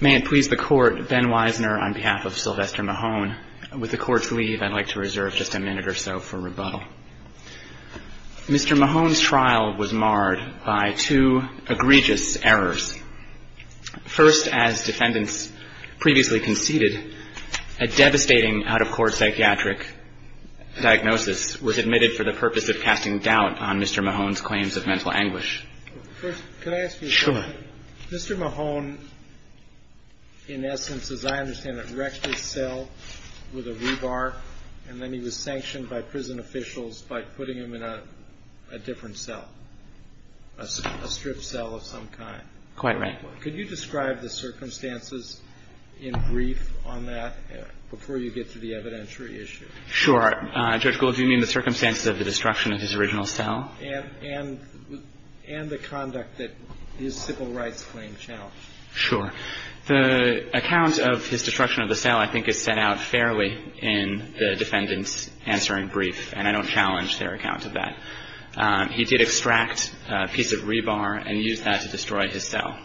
May it please the court, Ben Weisner on behalf of Sylvester Mahone. With the court's leave, I'd like to reserve just a minute or so for rebuttal. Mr. Mahone's trial was marred by two egregious errors. First, as defendants previously conceded, a devastating out-of-court psychiatric diagnosis was admitted for the purpose of casting doubt on Mr. Mahone's claims of mental anguish. First, could I ask you a question? Sure. Mr. Mahone, in essence, as I understand it, wrecked his cell with a rebar, and then he was sanctioned by prison officials by putting him in a different cell, a stripped cell of some kind. Quite right. Could you describe the circumstances in brief on that before you get to the evidentiary issue? Sure. Judge Gould, do you mean the circumstances of the destruction of his original cell? And the conduct that his civil rights claim challenged. Sure. The account of his destruction of the cell I think is set out fairly in the defendant's answering brief, and I don't challenge their account of that. He did extract a piece of rebar and use that to destroy his cell.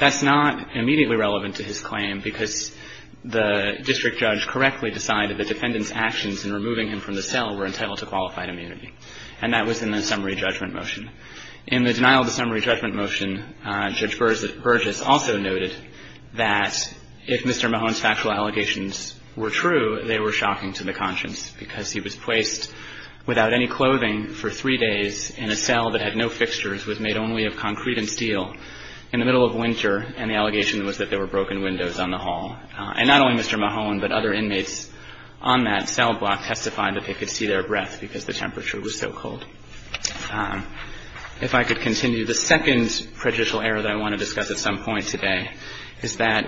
That's not immediately relevant to his claim because the district judge correctly decided that the defendant's actions in removing him from the cell were entitled to qualified immunity. And that was in the summary judgment motion. In the denial of the summary judgment motion, Judge Burgess also noted that if Mr. Mahone's factual allegations were true, they were shocking to the conscience because he was placed without any clothing for three days in a cell that had no fixtures, was made only of concrete and steel, in the middle of winter, and the allegation was that there were broken windows on the hall. And not only Mr. Mahone, but other inmates on that cell block testified that they could see their breath because the temperature was so cold. If I could continue. The second prejudicial error that I want to discuss at some point today is that.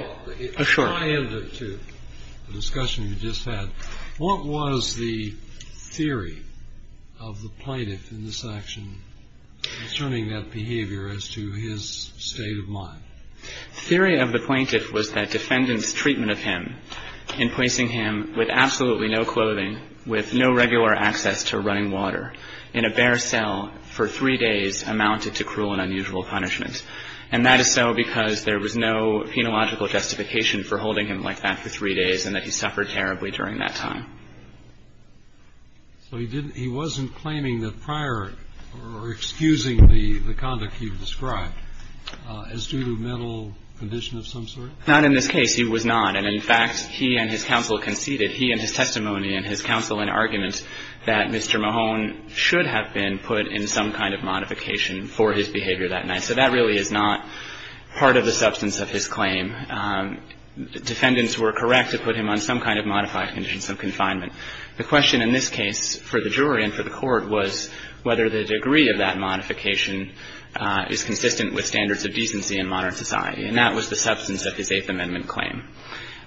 Oh, sure. The discussion you just had, what was the theory of the plaintiff in this action concerning that behavior as to his state of mind? Theory of the plaintiff was that defendant's treatment of him in placing him with absolutely no clothing, with no regular access to running water, in a bare cell for three days amounted to cruel and unusual punishment. And that is so because there was no penological justification for holding him like that for three days and that he suffered terribly during that time. So he didn't, he wasn't claiming that prior or excusing the conduct he described as due to mental condition of some sort? Not in this case. He was not. And in fact, he and his counsel conceded, he and his testimony and his counsel in argument that Mr. Mahone should have been put in some kind of modification for his behavior that night. So that really is not part of the substance of his claim. Defendants were correct to put him on some kind of modified condition, some confinement. The question in this case for the jury and for the court was whether the degree of that was consistent with standards of decency in modern society. And that was the substance of his Eighth Amendment claim.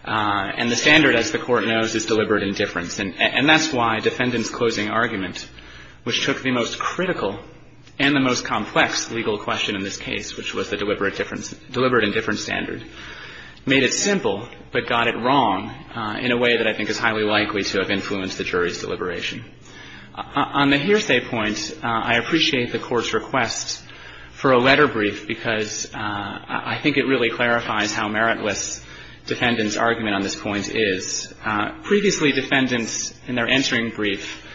And the standard, as the Court knows, is deliberate indifference. And that's why defendant's closing argument, which took the most critical and the most complex legal question in this case, which was the deliberate indifference standard, made it simple but got it wrong in a way that I think is highly likely to have influenced the jury's deliberation. On the hearsay point, I appreciate the Court's request for a letter brief because I think it really clarifies how meritless defendant's argument on this point is. Previously, defendants in their entering brief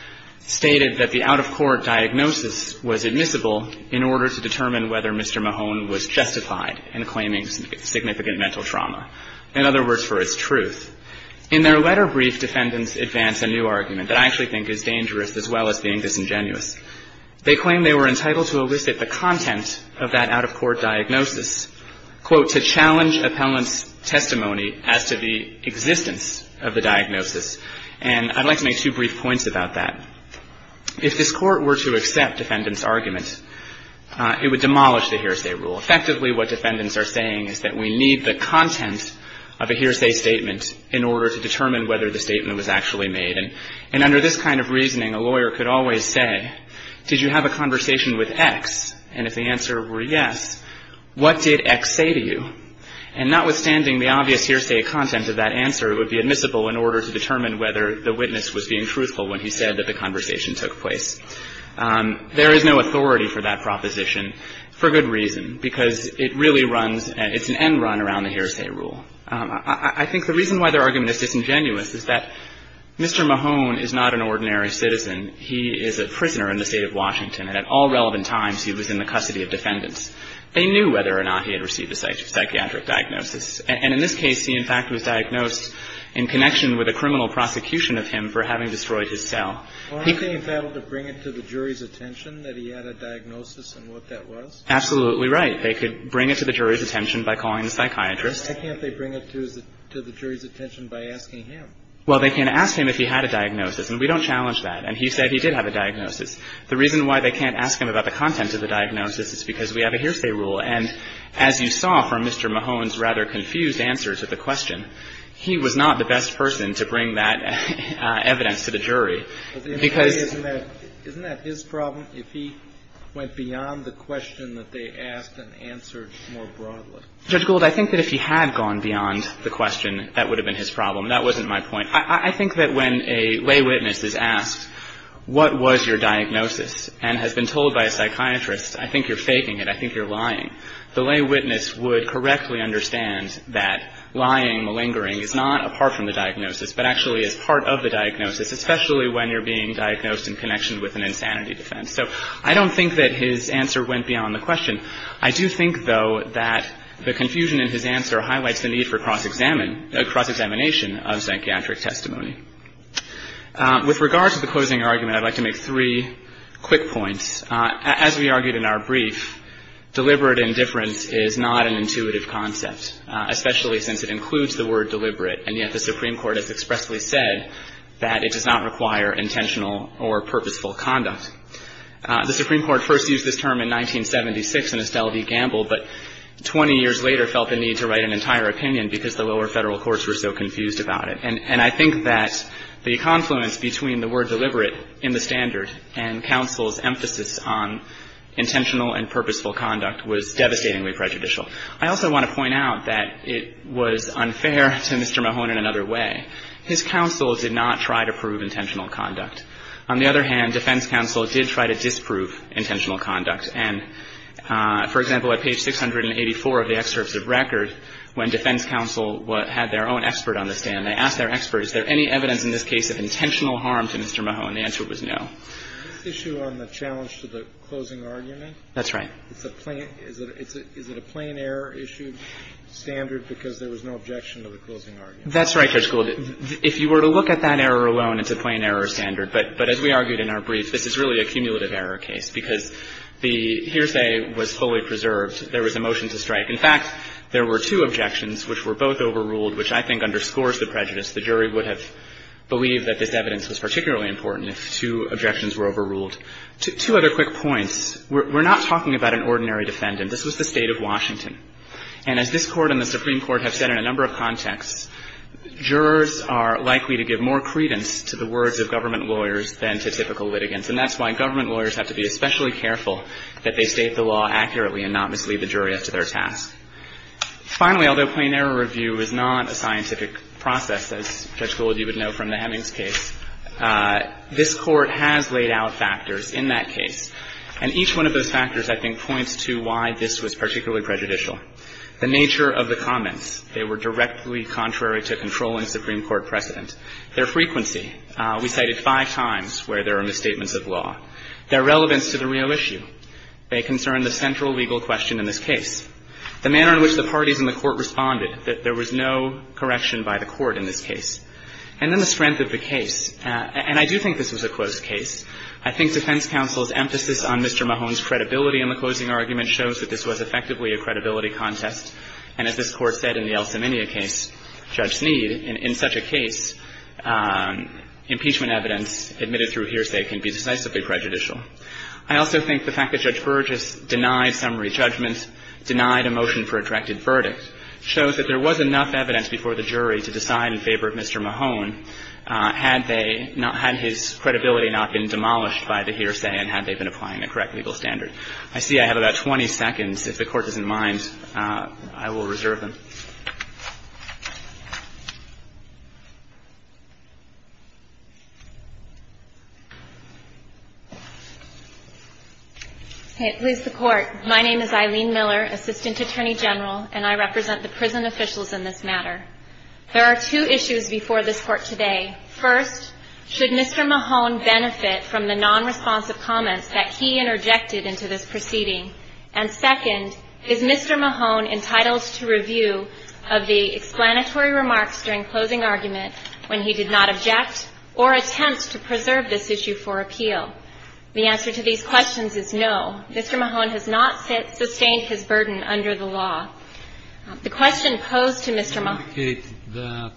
stated that the out-of-court diagnosis was admissible in order to determine whether Mr. Mahone was justified in claiming significant mental trauma. In other words, for its truth. In their letter brief, defendants advance a new argument that I actually think is dangerous as well as being disingenuous. They claim they were entitled to elicit the content of that out-of-court diagnosis, quote, to challenge appellant's testimony as to the existence of the diagnosis. And I'd like to make two brief points about that. If this Court were to accept defendant's argument, it would demolish the hearsay rule. Effectively, what defendants are saying is that we need the content of a hearsay statement in order to determine whether the statement was actually made. And under this kind of reasoning, a lawyer could always say, did you have a conversation with X? And if the answer were yes, what did X say to you? And notwithstanding the obvious hearsay content of that answer, it would be admissible in order to determine whether the witness was being truthful when he said that the conversation took place. There is no authority for that proposition, for good reason, because it really runs and it's an end run around the hearsay rule. I think the reason why their argument is disingenuous is that Mr. Mahone is not an ordinary citizen. He is a prisoner in the State of Washington, and at all relevant times he was in the custody of defendants. They knew whether or not he had received a psychiatric diagnosis. And in this case, he, in fact, was diagnosed in connection with a criminal prosecution of him for having destroyed his cell. Kennedy. Well, aren't they entitled to bring it to the jury's attention that he had a diagnosis and what that was? Absolutely right. They could bring it to the jury's attention by calling the psychiatrist. Why can't they bring it to the jury's attention by asking him? Well, they can ask him if he had a diagnosis, and we don't challenge that. And he said he did have a diagnosis. The reason why they can't ask him about the content of the diagnosis is because we have a hearsay rule. And as you saw from Mr. Mahone's rather confused answer to the question, he was not the best person to bring that evidence to the jury. Isn't that his problem, if he went beyond the question that they asked and answered more broadly? Judge Gould, I think that if he had gone beyond the question, that would have been his problem. That wasn't my point. I think that when a lay witness is asked, what was your diagnosis, and has been told by a psychiatrist, I think you're faking it, I think you're lying, the lay witness would correctly understand that lying, malingering, is not apart from the diagnosis, but actually is part of the diagnosis, especially when you're being diagnosed in connection with an insanity defense. So I don't think that his answer went beyond the question. I do think, though, that the confusion in his answer highlights the need for cross-examination of psychiatric testimony. With regards to the closing argument, I'd like to make three quick points. As we argued in our brief, deliberate indifference is not an intuitive concept, especially since it includes the word deliberate. And yet the Supreme Court has expressly said that it does not require intentional or purposeful conduct. The Supreme Court first used this term in 1976 in Estelle v. Gamble, but 20 years later felt the need to write an entire opinion because the lower Federal courts were so confused about it. And I think that the confluence between the word deliberate in the standard and counsel's emphasis on intentional and purposeful conduct was devastatingly prejudicial. I also want to point out that it was unfair to Mr. Mahone in another way. His counsel did not try to prove intentional conduct. On the other hand, defense counsel did try to disprove intentional conduct. And, for example, at page 684 of the excerpts of record, when defense counsel had their own expert on the stand, they asked their expert, is there any evidence in this case of intentional harm to Mr. Mahone? The answer was no. The issue on the challenge to the closing argument. That's right. Is it a plain error issued standard because there was no objection to the closing argument? That's right, Judge Gould. If you were to look at that error alone, it's a plain error standard. But as we argued in our brief, this is really a cumulative error case because the hearsay was fully preserved. There was a motion to strike. In fact, there were two objections which were both overruled, which I think underscores the prejudice. The jury would have believed that this evidence was particularly important if two objections were overruled. Two other quick points. We're not talking about an ordinary defendant. This was the State of Washington. And as this Court and the Supreme Court have said in a number of contexts, jurors are likely to give more credence to the words of government lawyers than to typical litigants. And that's why government lawyers have to be especially careful that they state the law accurately and not mislead the jury up to their task. Finally, although plain error review is not a scientific process, as Judge Gould you would know from the Hemings case, this Court has laid out factors in that case. And each one of those factors, I think, points to why this was particularly prejudicial. The nature of the comments. They were directly contrary to controlling Supreme Court precedent. Their frequency. We cited five times where there are misstatements of law. Their relevance to the real issue. They concern the central legal question in this case. The manner in which the parties in the Court responded, that there was no correction by the Court in this case. And then the strength of the case. And I do think this was a closed case. I think defense counsel's emphasis on Mr. Mahone's credibility in the closing argument shows that this was effectively a credibility contest. And as this Court said in the Elseminia case, Judge Sneed, in such a case, impeachment evidence admitted through hearsay can be decisively prejudicial. I also think the fact that Judge Burgess denied summary judgments, denied a motion for a directed verdict, shows that there was enough evidence before the jury to decide in favor of Mr. Mahone had they not had his credibility not been demolished by the hearsay and had they been applying a correct legal standard. I see I have about 20 seconds. If the Court doesn't mind, I will reserve them. Okay, please support. My name is Eileen Miller, Assistant Attorney General, and I represent the prison officials in this matter. There are two issues before this Court today. First, should Mr. Mahone benefit from the nonresponsive comments that he interjected into this proceeding? And second, is Mr. Mahone entitled to review of the explanatory remarks during closing argument when he did not object or attempt to preserve this issue for appeal? The answer to these questions is no. Mr. Mahone has not sustained his burden under the law. The question posed to Mr. Mahone ---- You indicated that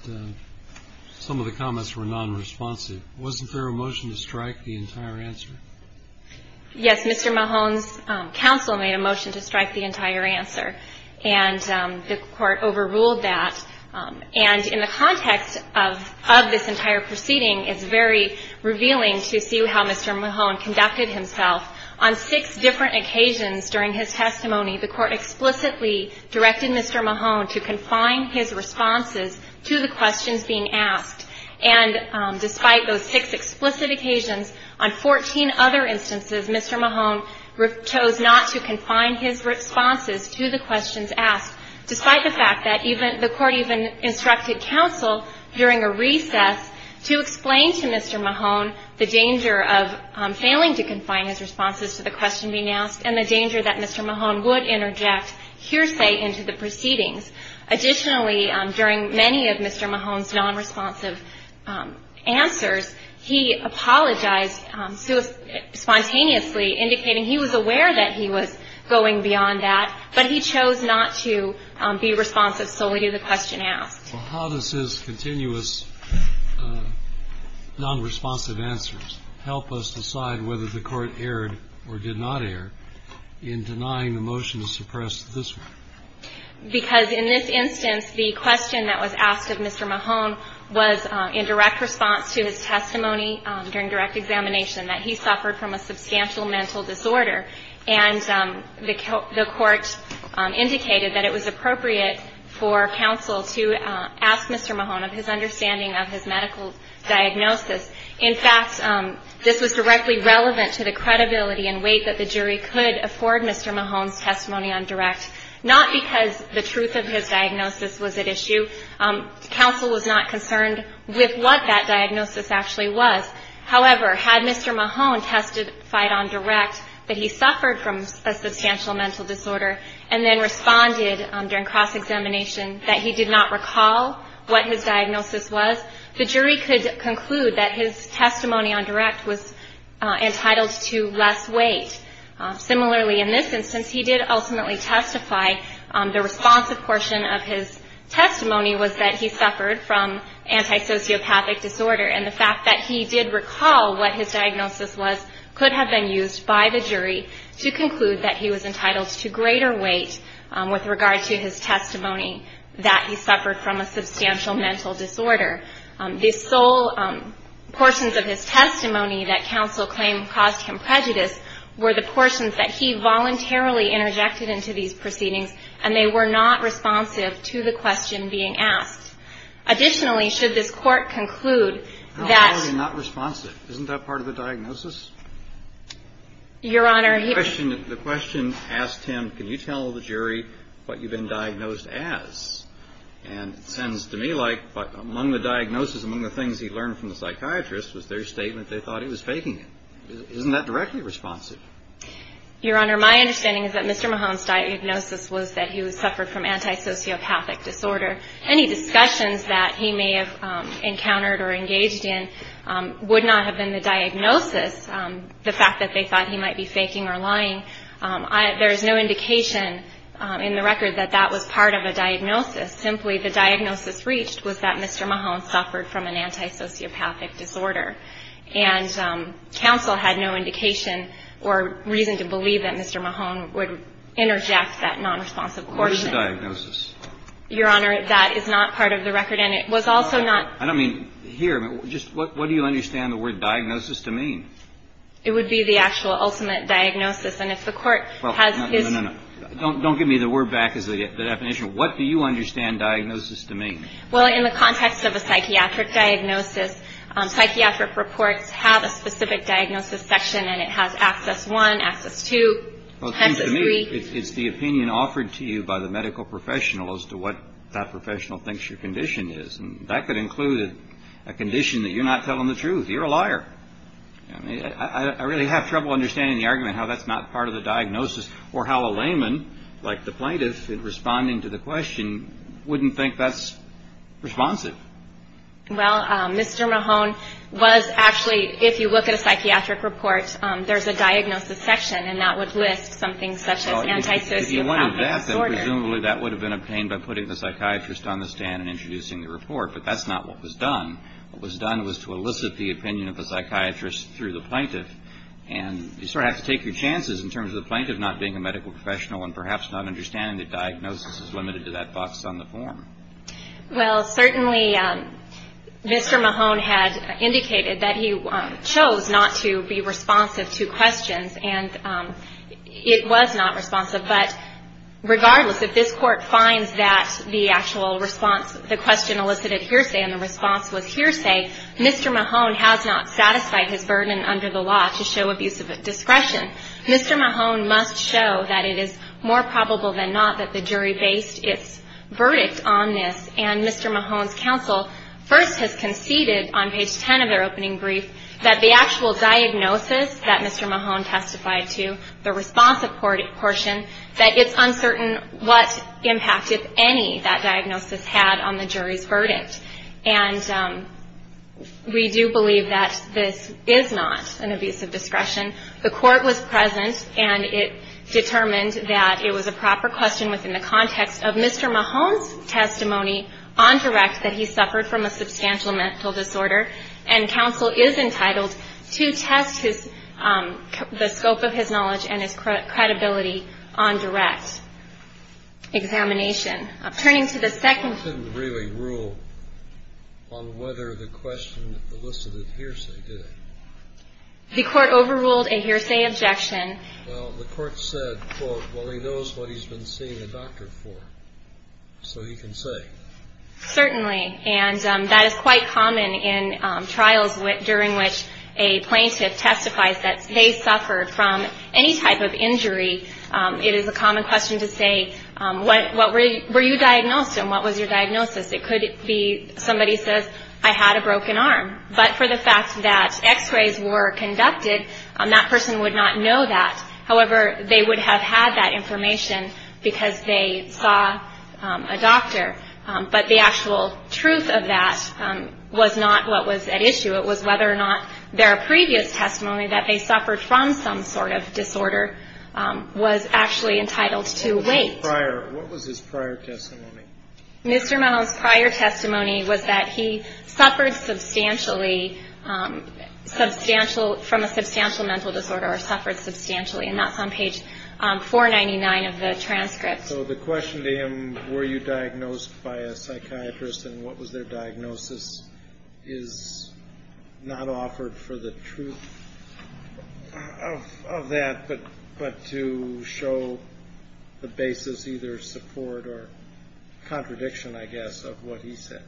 some of the comments were nonresponsive. Wasn't there a motion to strike the entire answer? Yes, Mr. Mahone's counsel made a motion to strike the entire answer. And the Court overruled that. And in the context of this entire proceeding, it's very revealing to see how Mr. Mahone conducted himself. On six different occasions during his testimony, the Court explicitly directed Mr. Mahone to confine his responses to the questions being asked. And despite those six explicit occasions, on 14 other instances, Mr. Mahone chose not to confine his responses to the questions asked, despite the fact that the Court even instructed counsel during a recess to explain to Mr. Mahone the danger of failing to confine his responses to the question being asked and the danger that Mr. Mahone would interject hearsay into the proceedings. Additionally, during many of Mr. Mahone's nonresponsive answers, he apologized spontaneously, indicating he was aware that he was going beyond that, but he chose not to be responsive solely to the question asked. Well, how does his continuous nonresponsive answers help us decide whether the Court erred or did not err in denying the motion to suppress this one? Because in this instance, the question that was asked of Mr. Mahone was in direct response to his testimony during direct examination that he suffered from a substantial mental disorder, and the Court indicated that it was appropriate for counsel to ask Mr. Mahone of his understanding of his medical diagnosis. In fact, this was directly relevant to the credibility and weight that the jury could afford Mr. Mahone's testimony on direct, not because the truth of his diagnosis was at issue. Counsel was not concerned with what that diagnosis actually was. However, had Mr. Mahone testified on direct that he suffered from a substantial mental disorder and then responded during cross-examination that he did not recall what his diagnosis was, the jury could conclude that his testimony on direct was entitled to less weight. Similarly, in this instance, he did ultimately testify. The responsive portion of his testimony was that he suffered from antisociopathic disorder, and the fact that he did recall what his diagnosis was could have been used by the jury to conclude that he was entitled to greater weight with regard to his testimony that he suffered from a substantial mental disorder. The sole portions of his testimony that counsel claimed caused him prejudice were the portions that he voluntarily interjected into these proceedings, and they were not responsive to the question being asked. Additionally, should this Court conclude that ---- Kennedy, not responsive. Isn't that part of the diagnosis? Your Honor, he ---- The question asked him, can you tell the jury what you've been diagnosed as? And it sounds to me like among the diagnosis, among the things he learned from the psychiatrist was their statement they thought he was faking it. Isn't that directly responsive? Your Honor, my understanding is that Mr. Mahone's diagnosis was that he suffered from antisociopathic disorder. Any discussions that he may have encountered or engaged in would not have been the diagnosis. The fact that they thought he might be faking or lying, there is no indication in the record that that was part of a diagnosis. Simply, the diagnosis reached was that Mr. Mahone suffered from an antisociopathic disorder. And counsel had no indication or reason to believe that Mr. Mahone would interject that nonresponsive coordinate. What was the diagnosis? Your Honor, that is not part of the record, and it was also not ---- I don't mean here. Just what do you understand the word diagnosis to mean? It would be the actual ultimate diagnosis. And if the Court has ---- No, no, no. Don't give me the word back as the definition. What do you understand diagnosis to mean? Well, in the context of a psychiatric diagnosis, psychiatric reports have a specific diagnosis section, and it has access one, access two, access three. Well, it seems to me it's the opinion offered to you by the medical professional as to what that professional thinks your condition is. And that could include a condition that you're not telling the truth. You're a liar. I really have trouble understanding the argument how that's not part of the diagnosis or how a layman, like the plaintiff in responding to the question, wouldn't think that's responsive. Well, Mr. Mahone was actually ---- if you look at a psychiatric report, there's a diagnosis section, and that would list something such as antisocial ---- If you wanted that, then presumably that would have been obtained by putting the psychiatrist on the stand and introducing the report. But that's not what was done. What was done was to elicit the opinion of the psychiatrist through the plaintiff. And you sort of have to take your chances in terms of the plaintiff not being a medical professional and perhaps not understanding that diagnosis is limited to that box on the form. Well, certainly Mr. Mahone had indicated that he chose not to be responsive to questions, and it was not responsive. But regardless, if this Court finds that the actual response, the question elicited hearsay and the response was hearsay, Mr. Mahone has not satisfied his burden under the law to show abuse of discretion, Mr. Mahone must show that it is more probable than not that the jury based its verdict on this. And Mr. Mahone's counsel first has conceded on page 10 of their opening brief that the actual diagnosis that Mr. Mahone testified to, the responsive portion, that it's uncertain what impact, if any, that diagnosis had on the jury's verdict. And we do believe that this is not an abuse of discretion. The Court was present, and it determined that it was a proper question within the context of Mr. Mahone's testimony on direct that he suffered from a substantial mental disorder, and counsel is entitled to test the scope of his knowledge and his credibility on direct examination. Turning to the second... He didn't really rule on whether the question elicited hearsay, did he? The Court overruled a hearsay objection. Well, the Court said, quote, well, he knows what he's been seeing a doctor for, so he can say. Certainly. And that is quite common in trials during which a plaintiff testifies that they suffered from any type of injury. It is a common question to say, what were you diagnosed, and what was your diagnosis? It could be somebody says, I had a broken arm. But for the fact that x-rays were conducted, that person would not know that. However, they would have had that information because they saw a doctor. But the actual truth of that was not what was at issue. It was whether or not their previous testimony that they suffered from some sort of disorder was actually entitled to weight. What was his prior testimony? Mr. Mellon's prior testimony was that he suffered substantially from a substantial mental disorder, or suffered substantially. And that's on page 499 of the transcript. So the question to him, were you diagnosed by a psychiatrist, and what was their diagnosis, is not offered for the truth of that, but to show the basis, either support or contradiction, I guess, of what he said.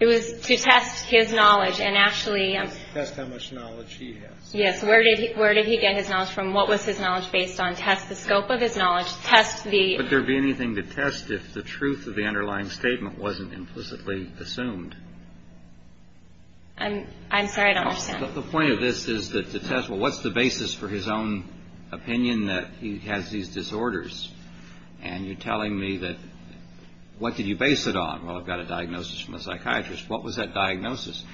It was to test his knowledge and actually. Test how much knowledge he has. Yes, where did he get his knowledge from? What was his knowledge based on? Test the scope of his knowledge. Test the. Would there be anything to test if the truth of the underlying statement wasn't implicitly assumed? I'm sorry, I don't understand. The point of this is that the test, well, what's the basis for his own opinion that he has these disorders? And you're telling me that. What did you base it on? Well, I've got a diagnosis from a psychiatrist. What was that diagnosis?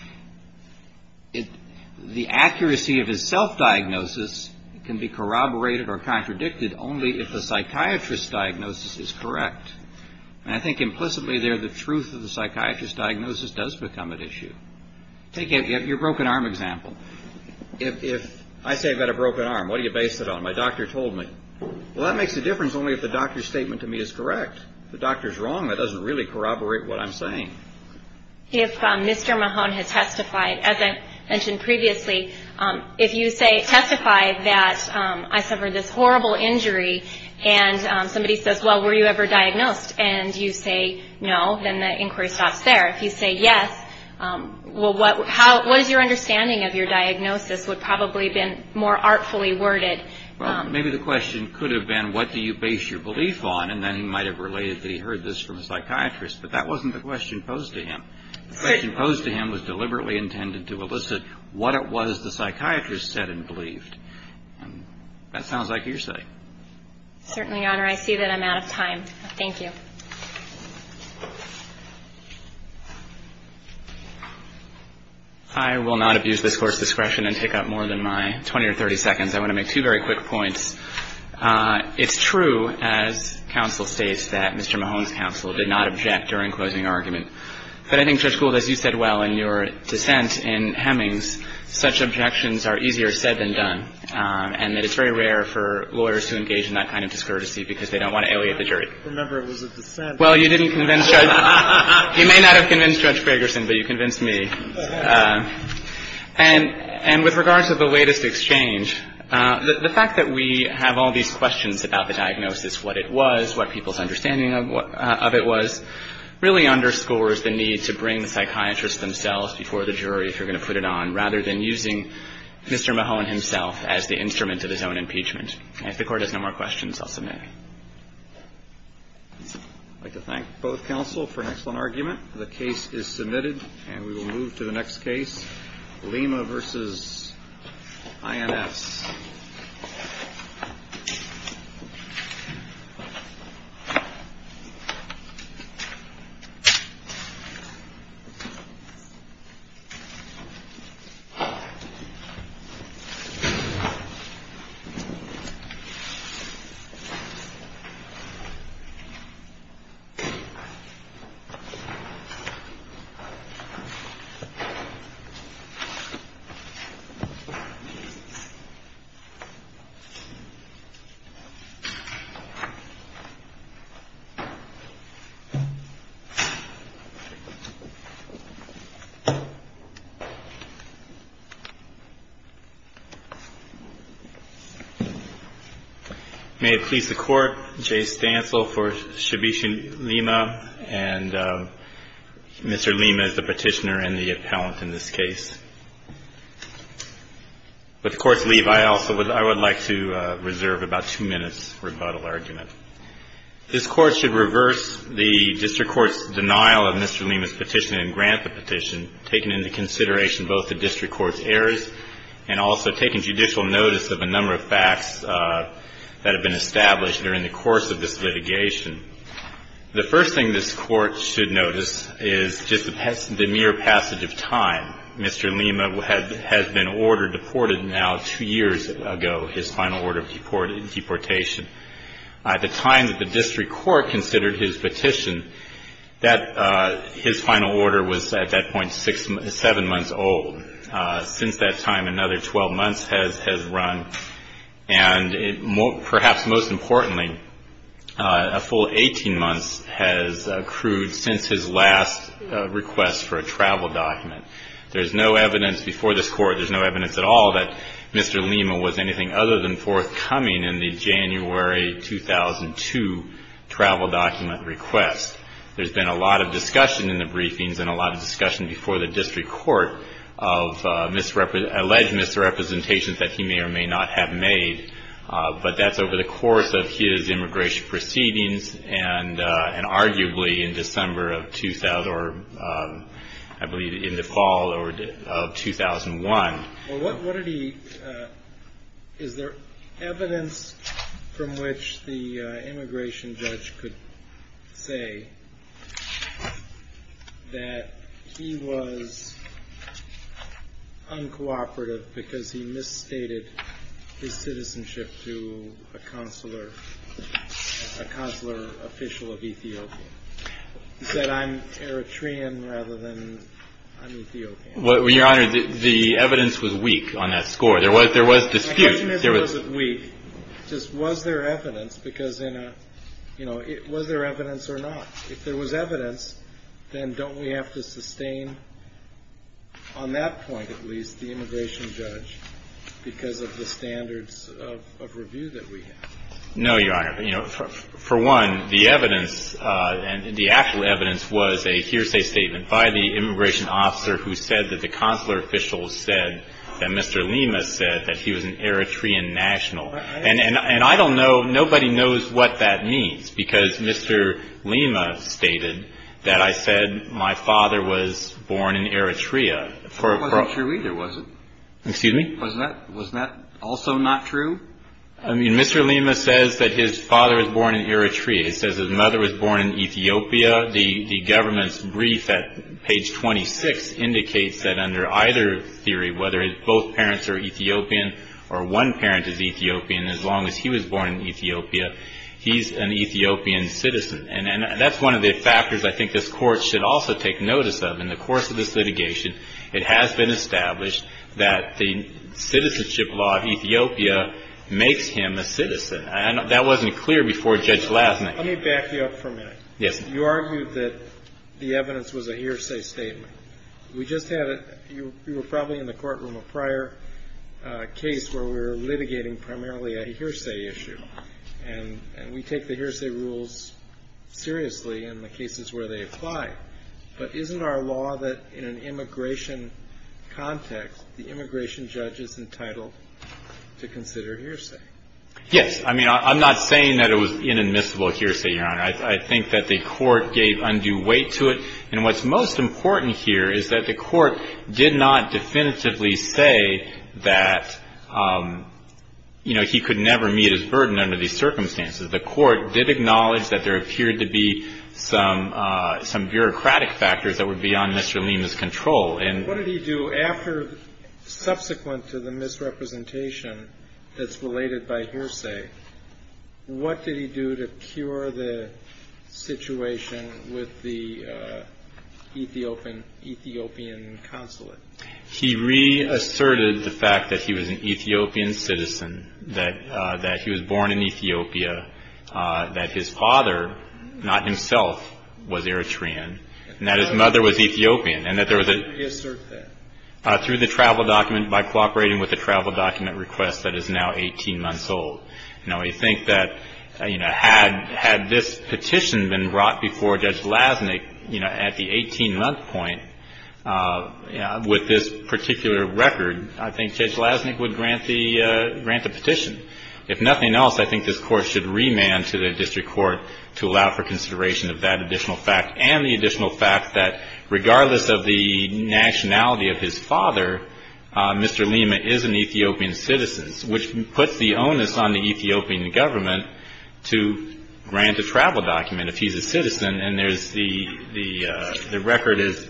The accuracy of his self-diagnosis can be corroborated or contradicted only if the psychiatrist's diagnosis is correct. And I think implicitly there the truth of the psychiatrist's diagnosis does become an issue. Take your broken arm example. If I say I've got a broken arm, what do you base it on? My doctor told me. Well, that makes a difference only if the doctor's statement to me is correct. If the doctor's wrong, that doesn't really corroborate what I'm saying. If Mr. Mahone has testified, as I mentioned previously, if you testify that I suffered this horrible injury and somebody says, well, were you ever diagnosed? And you say no, then the inquiry stops there. If you say yes, well, what is your understanding of your diagnosis would probably have been more artfully worded. Well, maybe the question could have been what do you base your belief on? And then he might have related that he heard this from a psychiatrist. But that wasn't the question posed to him. The question posed to him was deliberately intended to elicit what it was the psychiatrist said and believed. And that sounds like your side. Certainly, Your Honor. I see that I'm out of time. Thank you. I will not abuse this Court's discretion and take up more than my 20 or 30 seconds. I want to make two very quick points. It's true, as counsel states, that Mr. Mahone's counsel did not object during closing argument. But I think, Judge Gould, as you said well in your dissent in Hemings, such objections are easier said than done, and that it's very rare for lawyers to engage in that kind of discourtesy because they don't want to aliate the jury. Remember, it was a dissent. Well, you didn't convince Judge — you may not have convinced Judge Ferguson, but you convinced me. And with regards to the latest exchange, the fact that we have all these questions about the diagnosis, what it was, what people's understanding of it was, really underscores the need to bring the psychiatrist themselves before the jury if you're going to put it on, rather than using Mr. Mahone himself as the instrument of his own impeachment. And if the Court has no more questions, I'll submit. I'd like to thank both counsel for an excellent argument. The case is submitted, and we will move to the next case, Lima v. INS. May it please the Court, Jay Stansel for Shibishi-Lima. And Mr. Lima is the petitioner and the appellant in this case. With the Court's leave, I also would — I would like to reserve about two minutes for rebuttal argument. This Court should reverse the district court's denial of Mr. Lima's petition and grant the petition, taking into consideration both the district court's errors and also taking judicial notice of a number of facts that have been established during the course of this litigation. The first thing this Court should notice is just the mere passage of time. Mr. Lima had been ordered — deported now two years ago, his final order of deportation. At the time that the district court considered his petition, that — his final order was at that point six — seven months old. Since that time, another 12 months has run. And perhaps most importantly, a full 18 months has accrued since his last request for a travel document. There's no evidence before this Court — there's no evidence at all that Mr. Lima was anything other than forthcoming in the January 2002 travel document request. There's been a lot of discussion in the briefings and a lot of discussion before the district court of alleged misrepresentations that he may or may not have made. But that's over the course of his immigration proceedings and arguably in December of — or I believe in the fall of 2001. Well, what did he — is there evidence from which the immigration judge could say that he was uncooperative because he misstated his citizenship to a consular — a consular official of Ethiopia? He said, I'm Eritrean rather than I'm Ethiopian. Well, Your Honor, the evidence was weak on that score. There was — there was dispute. The question isn't was it weak, just was there evidence because in a — you know, was there evidence or not? If there was evidence, then don't we have to sustain on that point at least the immigration judge because of the standards of review that we have? No, Your Honor. You know, for one, the evidence and the actual evidence was a hearsay statement by the immigration officer who said that the consular official said that Mr. Lima said that he was an Eritrean national. And I don't know — nobody knows what that means because Mr. Lima stated that I said my father was born in Eritrea. That wasn't true either, was it? Excuse me? Was that — was that also not true? I mean, Mr. Lima says that his father was born in Eritrea. He says his mother was born in Ethiopia. The government's brief at page 26 indicates that under either theory, whether both parents are Ethiopian or one parent is Ethiopian, as long as he was born in Ethiopia, he's an Ethiopian citizen. And that's one of the factors I think this Court should also take notice of. In the course of this litigation, it has been established that the citizenship law of Ethiopia makes him a citizen. And that wasn't clear before Judge Lassner. Let me back you up for a minute. You argued that the evidence was a hearsay statement. We just had a — you were probably in the courtroom a prior case where we were litigating primarily a hearsay issue. And we take the hearsay rules seriously in the cases where they apply. But isn't our law that in an immigration context, the immigration judge is entitled to consider hearsay? Yes. And I think that the Court gave undue weight to it. And what's most important here is that the Court did not definitively say that, you know, he could never meet his burden under these circumstances. The Court did acknowledge that there appeared to be some bureaucratic factors that were beyond Mr. Lima's control. And — What did he do after — subsequent to the misrepresentation that's related by hearsay? What did he do to cure the situation with the Ethiopian consulate? He reasserted the fact that he was an Ethiopian citizen, that he was born in Ethiopia, that his father, not himself, was Eritrean, and that his mother was Ethiopian, and that there was a — How did he assert that? Through the travel document — by cooperating with a travel document request that is now 18 months old. Now, I think that, you know, had this petition been brought before Judge Lasnik, you know, at the 18-month point, with this particular record, I think Judge Lasnik would grant the — grant the petition. If nothing else, I think this Court should remand to the district court to allow for consideration of that additional fact and the additional fact that, regardless of the What's the onus on the Ethiopian government to grant a travel document if he's a citizen? And there's the — the record is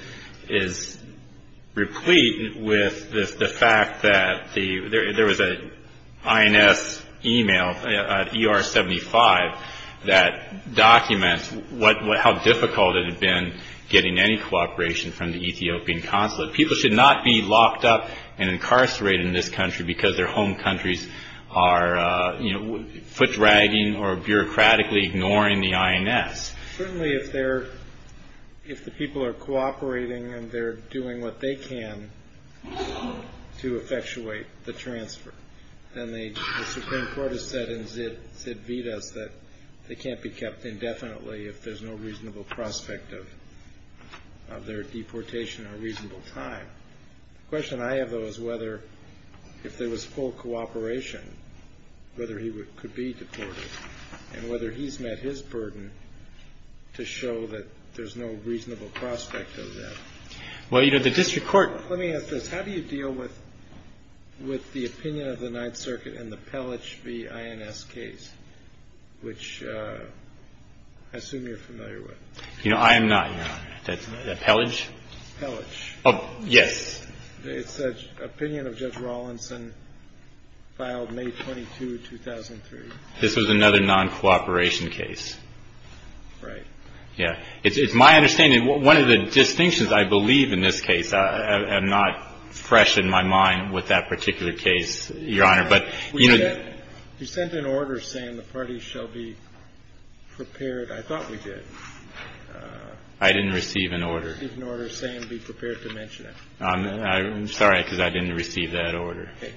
replete with the fact that there was an INS email, an ER-75, that documents how difficult it had been getting any cooperation from the Ethiopian consulate. People should not be locked up and incarcerated in this country because their home countries are, you know, foot-dragging or bureaucratically ignoring the INS. Certainly, if they're — if the people are cooperating and they're doing what they can to effectuate the transfer, then the Supreme Court has said in Zid Vidas that they can't be kept indefinitely if there's no reasonable prospect of their deportation or reasonable time. The question I have, though, is whether, if there was full cooperation, whether he could be deported and whether he's met his burden to show that there's no reasonable prospect of that. Well, you know, the district court — Let me ask this. How do you deal with — with the opinion of the Ninth Circuit in the Pellich v. INS case, which I assume you're familiar with? You know, I am not, Your Honor. Pellich? Pellich. Oh, yes. It's the opinion of Judge Rawlinson, filed May 22, 2003. This was another non-cooperation case. Right. Yeah. It's my understanding — one of the distinctions, I believe, in this case — I'm not fresh in my mind with that particular case, Your Honor, but — You sent an order saying the parties shall be prepared. I thought we did. I didn't receive an order. You didn't receive an order saying be prepared to mention it. I'm sorry, because I didn't receive that order. Okay.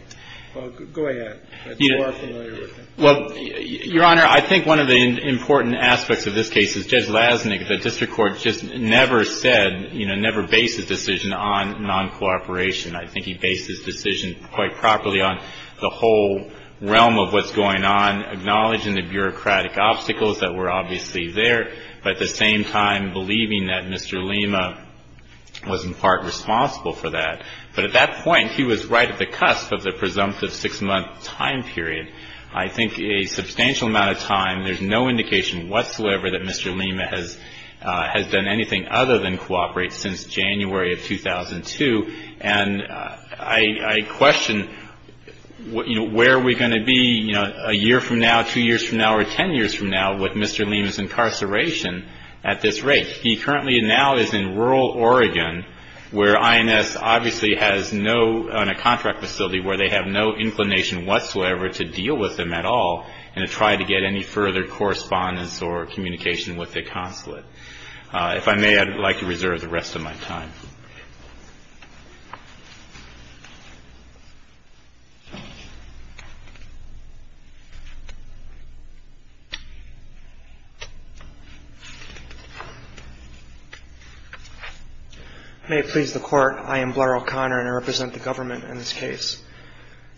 Well, go ahead. You are familiar with it. Well, Your Honor, I think one of the important aspects of this case is Judge Lasnik, the district court just never said, you know, never based his decision on non-cooperation. I think he based his decision quite properly on the whole realm of what's going on, acknowledging the bureaucratic obstacles that were obviously there, but at the same time believing that Mr. Lima was in part responsible for that. But at that point, he was right at the cusp of the presumptive six-month time period. I think a substantial amount of time. There's no indication whatsoever that Mr. Lima has done anything other than cooperate since January of 2002. And I question, you know, where are we going to be, you know, a year from now, two years from now, or ten years from now with Mr. Lima's incarceration at this rate? He currently now is in rural Oregon where INS obviously has no contract facility where they have no inclination whatsoever to deal with him at all and to try to get any further correspondence or communication with the consulate. If I may, I'd like to reserve the rest of my time. Thank you, Your Honor. I may it please the Court, I am Blair O'Connor and I represent the government in this case.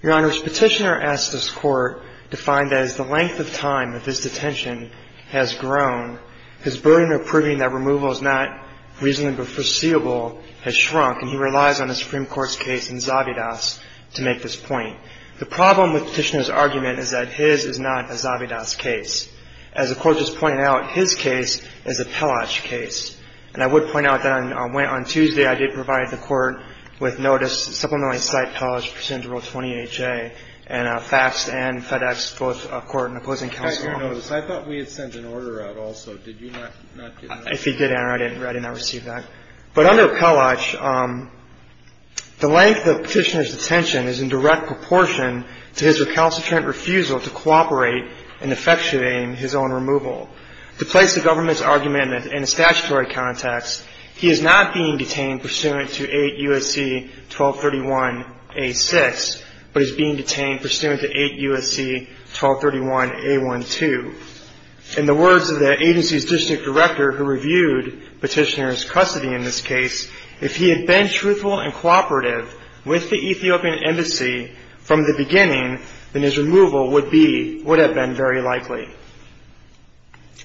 Your Honor, this Petitioner asks this Court to find that as the length of time that his detention has grown, his burden of proving that removal is not reasonably foreseeable has shrunk and he relies on the Supreme Court's case in Zavidas to make this point. The problem with Petitioner's argument is that his is not a Zavidas case. As the Court just pointed out, his case is a Pellage case. And I would point out that on Tuesday I did provide the Court with notice to supplement my site Pellage procedural 20HA and faxed and FedExed both the Court and opposing counsel. I thought we had sent an order out also. Did you not get that? I did not receive that. But under Pellage, the length of Petitioner's detention is in direct proportion to his recalcitrant refusal to cooperate in effectuating his own removal. To place the government's argument in a statutory context, he is not being detained pursuant to 8 U.S.C. 1231 A.6, but is being detained pursuant to 8 U.S.C. 1231 A.1.2. In the words of the agency's district director who reviewed Petitioner's custody in this case, if he had been truthful and cooperative with the Ethiopian embassy from the beginning, then his removal would have been very likely.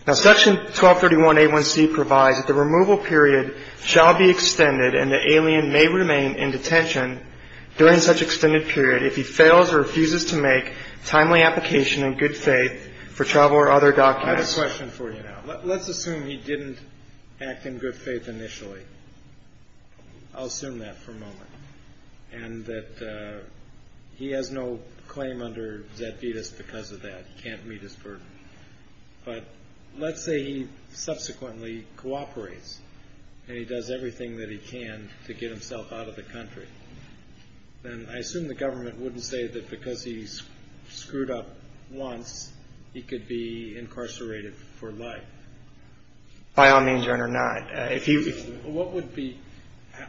Now, Section 1231 A.1.C. provides that the removal period shall be extended and the alien may remain in detention during such extended period if he fails or refuses to make timely application in good faith for travel or other documents. I have a question for you now. Let's assume he didn't act in good faith initially. I'll assume that for a moment. And that he has no claim under Zet Vetus because of that. He can't meet his burden. But let's say he subsequently cooperates and he does everything that he can to get himself out of the country. Then I assume the government wouldn't say that because he's screwed up once, he could be incarcerated for life. By all means, Your Honor, not. What would be,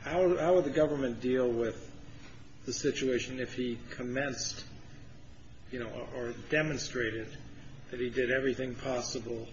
how would the government deal with the situation if he commenced, you know, or demonstrated that he did everything possible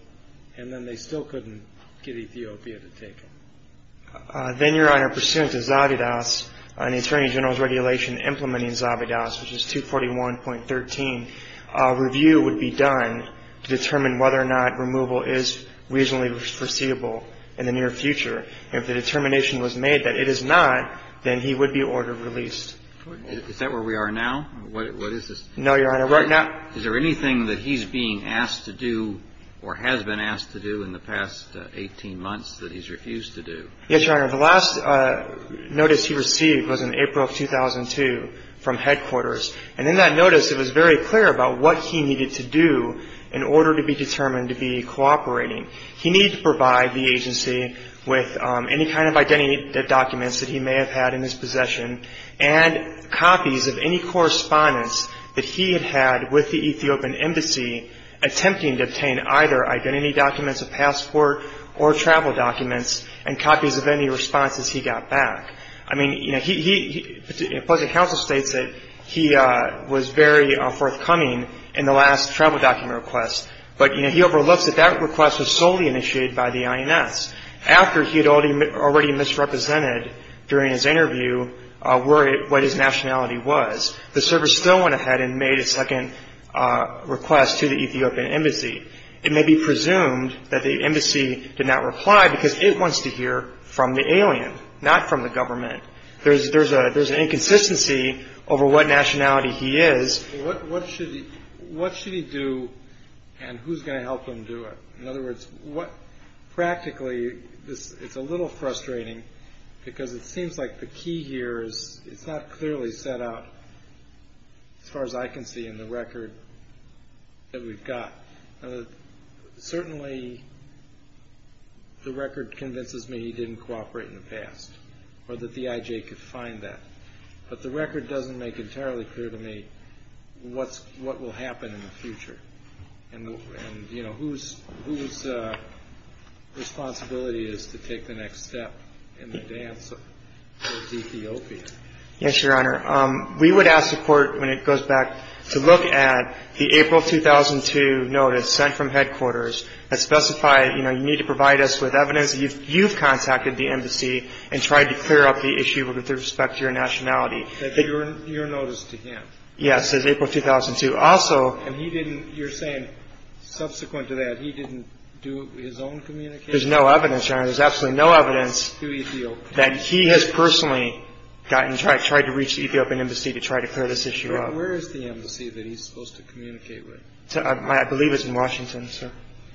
and then they still couldn't get Ethiopia to take him? Then, Your Honor, pursuant to Zabidas and the Attorney General's regulation implementing Zabidas, which is 241.13, a review would be done to determine whether or not removal is reasonably foreseeable in the near future. If the determination was made that it is not, then he would be order released. Is that where we are now? What is this? No, Your Honor. Right now. Is there anything that he's being asked to do or has been asked to do in the past 18 months that he's refused to do? Yes, Your Honor. The last notice he received was in April of 2002 from headquarters. And in that notice, it was very clear about what he needed to do in order to be determined to be cooperating. He needed to provide the agency with any kind of identity documents that he may have had in his possession and copies of any correspondence that he had had with the Ethiopian Embassy attempting to obtain either identity documents, a passport, or travel documents and copies of any responses he got back. I mean, you know, he – the public counsel states that he was very forthcoming in the last travel document request. But, you know, he overlooks that that request was solely initiated by the INS. After he had already misrepresented during his interview what his nationality was, the service still went ahead and made a second request to the Ethiopian Embassy. It may be presumed that the embassy did not reply because it wants to hear from the alien, not from the government. There's an inconsistency over what nationality he is. What should he do and who's going to help him do it? In other words, practically, it's a little frustrating because it seems like the key here is it's not clearly set out as far as I can see in the record that we've got. Certainly, the record convinces me he didn't cooperate in the past or that the IJ could find that. But the record doesn't make entirely clear to me what will happen in the future and, you know, whose responsibility is to take the next step in the dance for Ethiopia. Yes, Your Honor. We would ask the Court, when it goes back, to look at the April 2002 notice sent from headquarters that specified, you know, you need to provide us with evidence that you've contacted the embassy and tried to clear up the issue with respect to your nationality. That's your notice to him? Yes, it's April 2002. And he didn't, you're saying, subsequent to that, he didn't do his own communication? There's no evidence, Your Honor. There's absolutely no evidence that he has personally gotten, tried to reach the Ethiopian embassy to try to clear this issue up. Where is the embassy that he's supposed to communicate with? I believe it's in Washington, sir.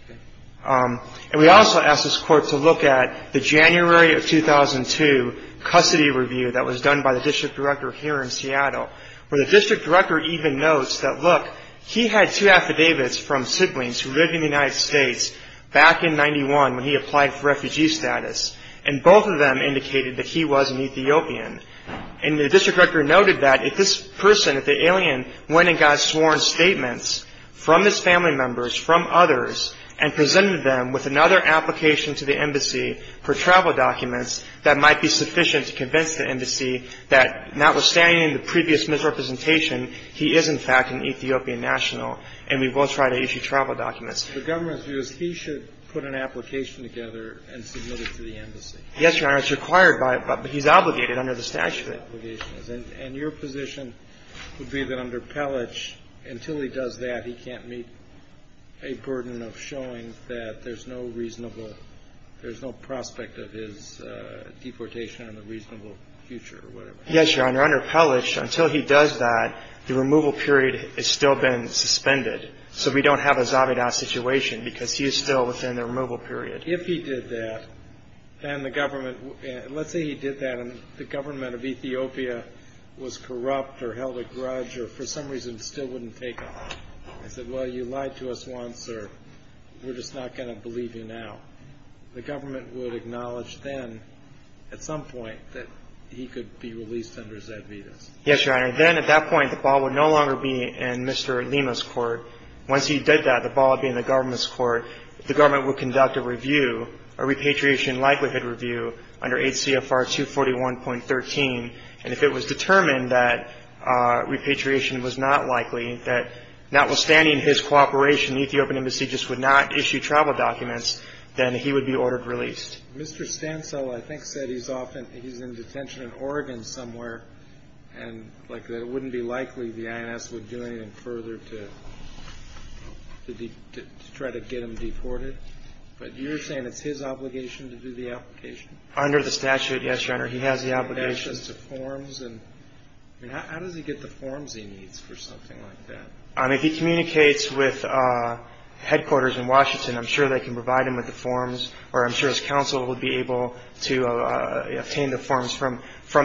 Okay. And we also ask this Court to look at the January of 2002 custody review that was done by the district director here in Seattle, where the district director even notes that, look, he had two affidavits from siblings who lived in the United States back in 91 when he applied for refugee status, and both of them indicated that he was an Ethiopian. And the district director noted that if this person, if the alien, went and got sworn statements from his family members, from others, and presented them with another application to the embassy for travel documents, that might be sufficient to convince the embassy that, notwithstanding the previous misrepresentation, he is, in fact, an Ethiopian national, and we will try to issue travel documents. The government's view is he should put an application together and submit it to the embassy. Yes, Your Honor. It's required by it, but he's obligated under the statute. And your position would be that under Pellich, until he does that, he can't meet a burden of showing that there's no reasonable, there's no prospect of his deportation on a reasonable future or whatever? Yes, Your Honor. Under Pellich, until he does that, the removal period has still been suspended, so we don't have a Zabeda situation because he is still within the removal period. If he did that, then the government, let's say he did that and the government of Ethiopia was corrupt or held a grudge or for some reason still wouldn't take him, I said, well, you lied to us once or we're just not going to believe you now. The government would acknowledge then at some point that he could be released under Zabedas. Yes, Your Honor. Then at that point, the ball would no longer be in Mr. Lima's court. Once he did that, the ball would be in the government's court. The government would conduct a review, a repatriation likelihood review, under 8 CFR 241.13. And if it was determined that repatriation was not likely, that notwithstanding his cooperation, the Ethiopian Embassy just would not issue travel documents, then he would be ordered released. Mr. Stancil, I think, said he's in detention in Oregon somewhere and that it wouldn't be likely the INS would do anything further to try to get him deported. But you're saying it's his obligation to do the application? He has the obligation. He has the obligation to forms. I mean, how does he get the forms he needs for something like that? If he communicates with headquarters in Washington, I'm sure they can provide him with the forms, or I'm sure his counsel would be able to obtain the forms from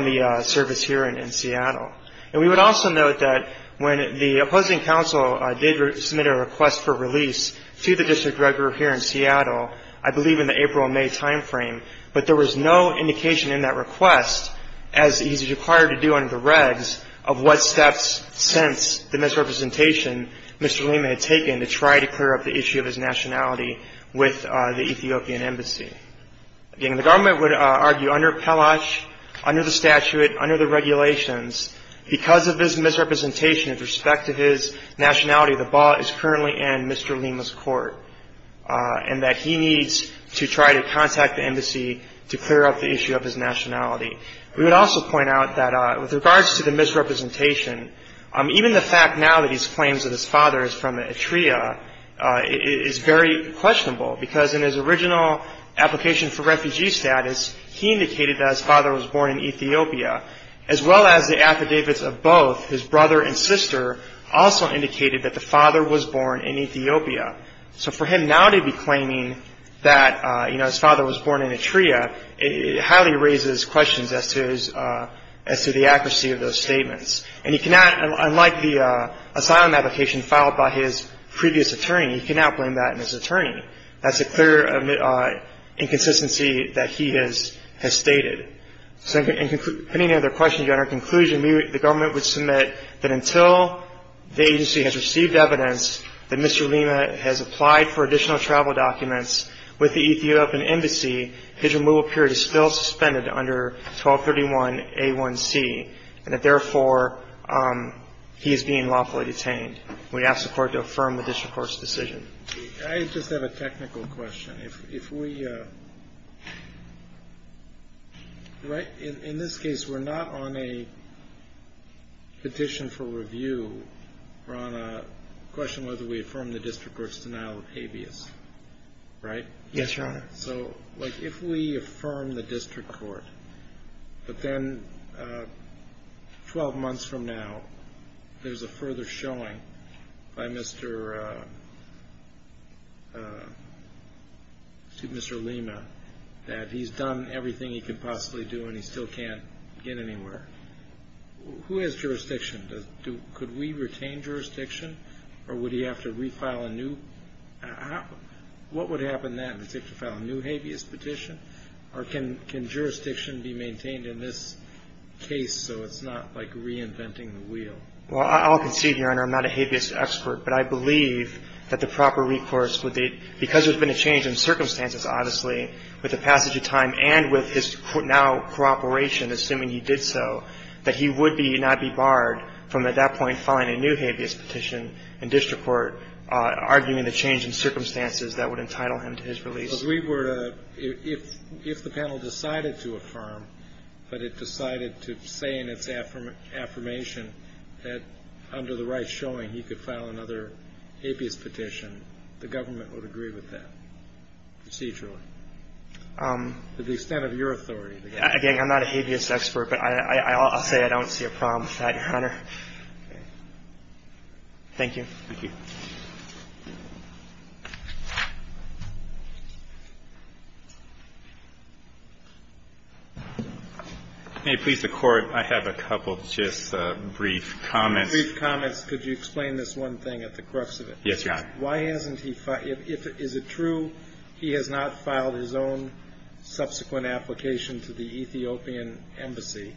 the service here in Seattle. And we would also note that when the opposing counsel did submit a request for release to the district record here in Seattle, I believe in the April or May timeframe, but there was no indication in that request, as he's required to do under the regs, of what steps since the misrepresentation Mr. Lima had taken to try to clear up the issue of his nationality with the Ethiopian Embassy. Again, the government would argue under PELASH, under the statute, under the regulations, because of his misrepresentation with respect to his nationality, the ball is currently in Mr. Lima's court and that he needs to try to contact the embassy to clear up the issue of his nationality. We would also point out that with regards to the misrepresentation, even the fact now that he claims that his father is from Eritrea is very questionable because in his original application for refugee status, he indicated that his father was born in Ethiopia. As well as the affidavits of both, his brother and sister also indicated that the father was born in Ethiopia. So for him now to be claiming that his father was born in Eritrea, it highly raises questions as to the accuracy of those statements. Unlike the asylum application filed by his previous attorney, he cannot blame that on his attorney. That's a clear inconsistency that he has stated. Depending on the question, the government would submit that until the agency has received evidence that Mr. Lima has applied for additional travel documents with the Ethiopian embassy, his removal period is still suspended under 1231A1C and that therefore he is being lawfully detained. We ask the court to affirm the district court's decision. I just have a technical question. In this case, we're not on a petition for review. We're on a question whether we affirm the district court's denial of habeas, right? Yes, Your Honor. If we affirm the district court, but then 12 months from now, there's a further showing by Mr. Lima that he's done everything he can possibly do and he still can't get anywhere. Who has jurisdiction? Could we retain jurisdiction or would he have to refile a new? What would happen then? Does he have to file a new habeas petition or can jurisdiction be maintained in this case so it's not like reinventing the wheel? Well, I'll concede, Your Honor, I'm not a habeas expert, but I believe that the proper recourse would be, because there's been a change in circumstances, obviously, with the passage of time and with his now cooperation, assuming he did so, that he would not be barred from at that point filing a new habeas petition in district court, arguing the change in circumstances that would entitle him to his release. If the panel decided to affirm, but it decided to say in its affirmation that under the right showing he could file another habeas petition, the government would agree with that procedurally to the extent of your authority. Again, I'm not a habeas expert, but I'll say I don't see a problem with that, Your Honor. Thank you. Thank you. May it please the Court, I have a couple just brief comments. Brief comments. Could you explain this one thing at the crux of it? Yes, Your Honor. Why hasn't he filed? Is it true he has not filed his own subsequent application to the Ethiopian embassy?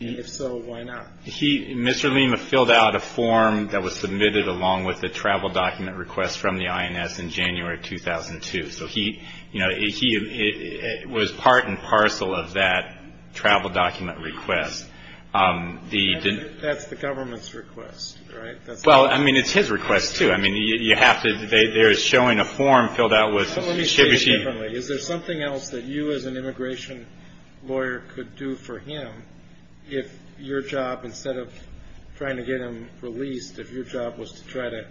And if so, why not? Mr. Lima filled out a form that was submitted along with a travel document request from the INS in January 2002. So he was part and parcel of that travel document request. That's the government's request, right? Well, I mean, it's his request, too. I mean, you have to – they're showing a form filled out with – Let me say it differently. Is there something else that you as an immigration lawyer could do for him if your job, instead of trying to get him released, if your job was to try to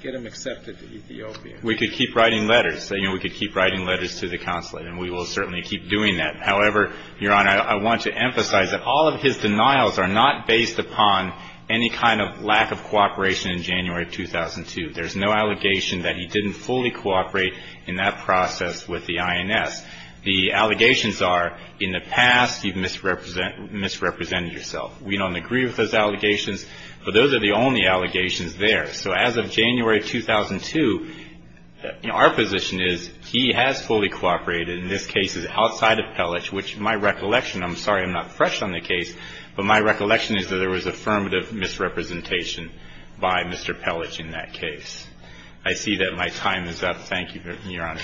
get him accepted to Ethiopia? We could keep writing letters. You know, we could keep writing letters to the consulate, and we will certainly keep doing that. However, Your Honor, I want to emphasize that all of his denials are not based upon any kind of lack of cooperation in January 2002. There's no allegation that he didn't fully cooperate in that process with the INS. The allegations are, in the past, you've misrepresented yourself. We don't agree with those allegations, but those are the only allegations there. So as of January 2002, our position is he has fully cooperated. In this case, it's outside of Pelec, which my recollection – I'm sorry, I'm not fresh on the case – but my recollection is that there was affirmative misrepresentation by Mr. Pelec in that case. I see that my time is up. Thank you, Your Honor.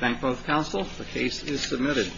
Thank both counsel. The case is submitted.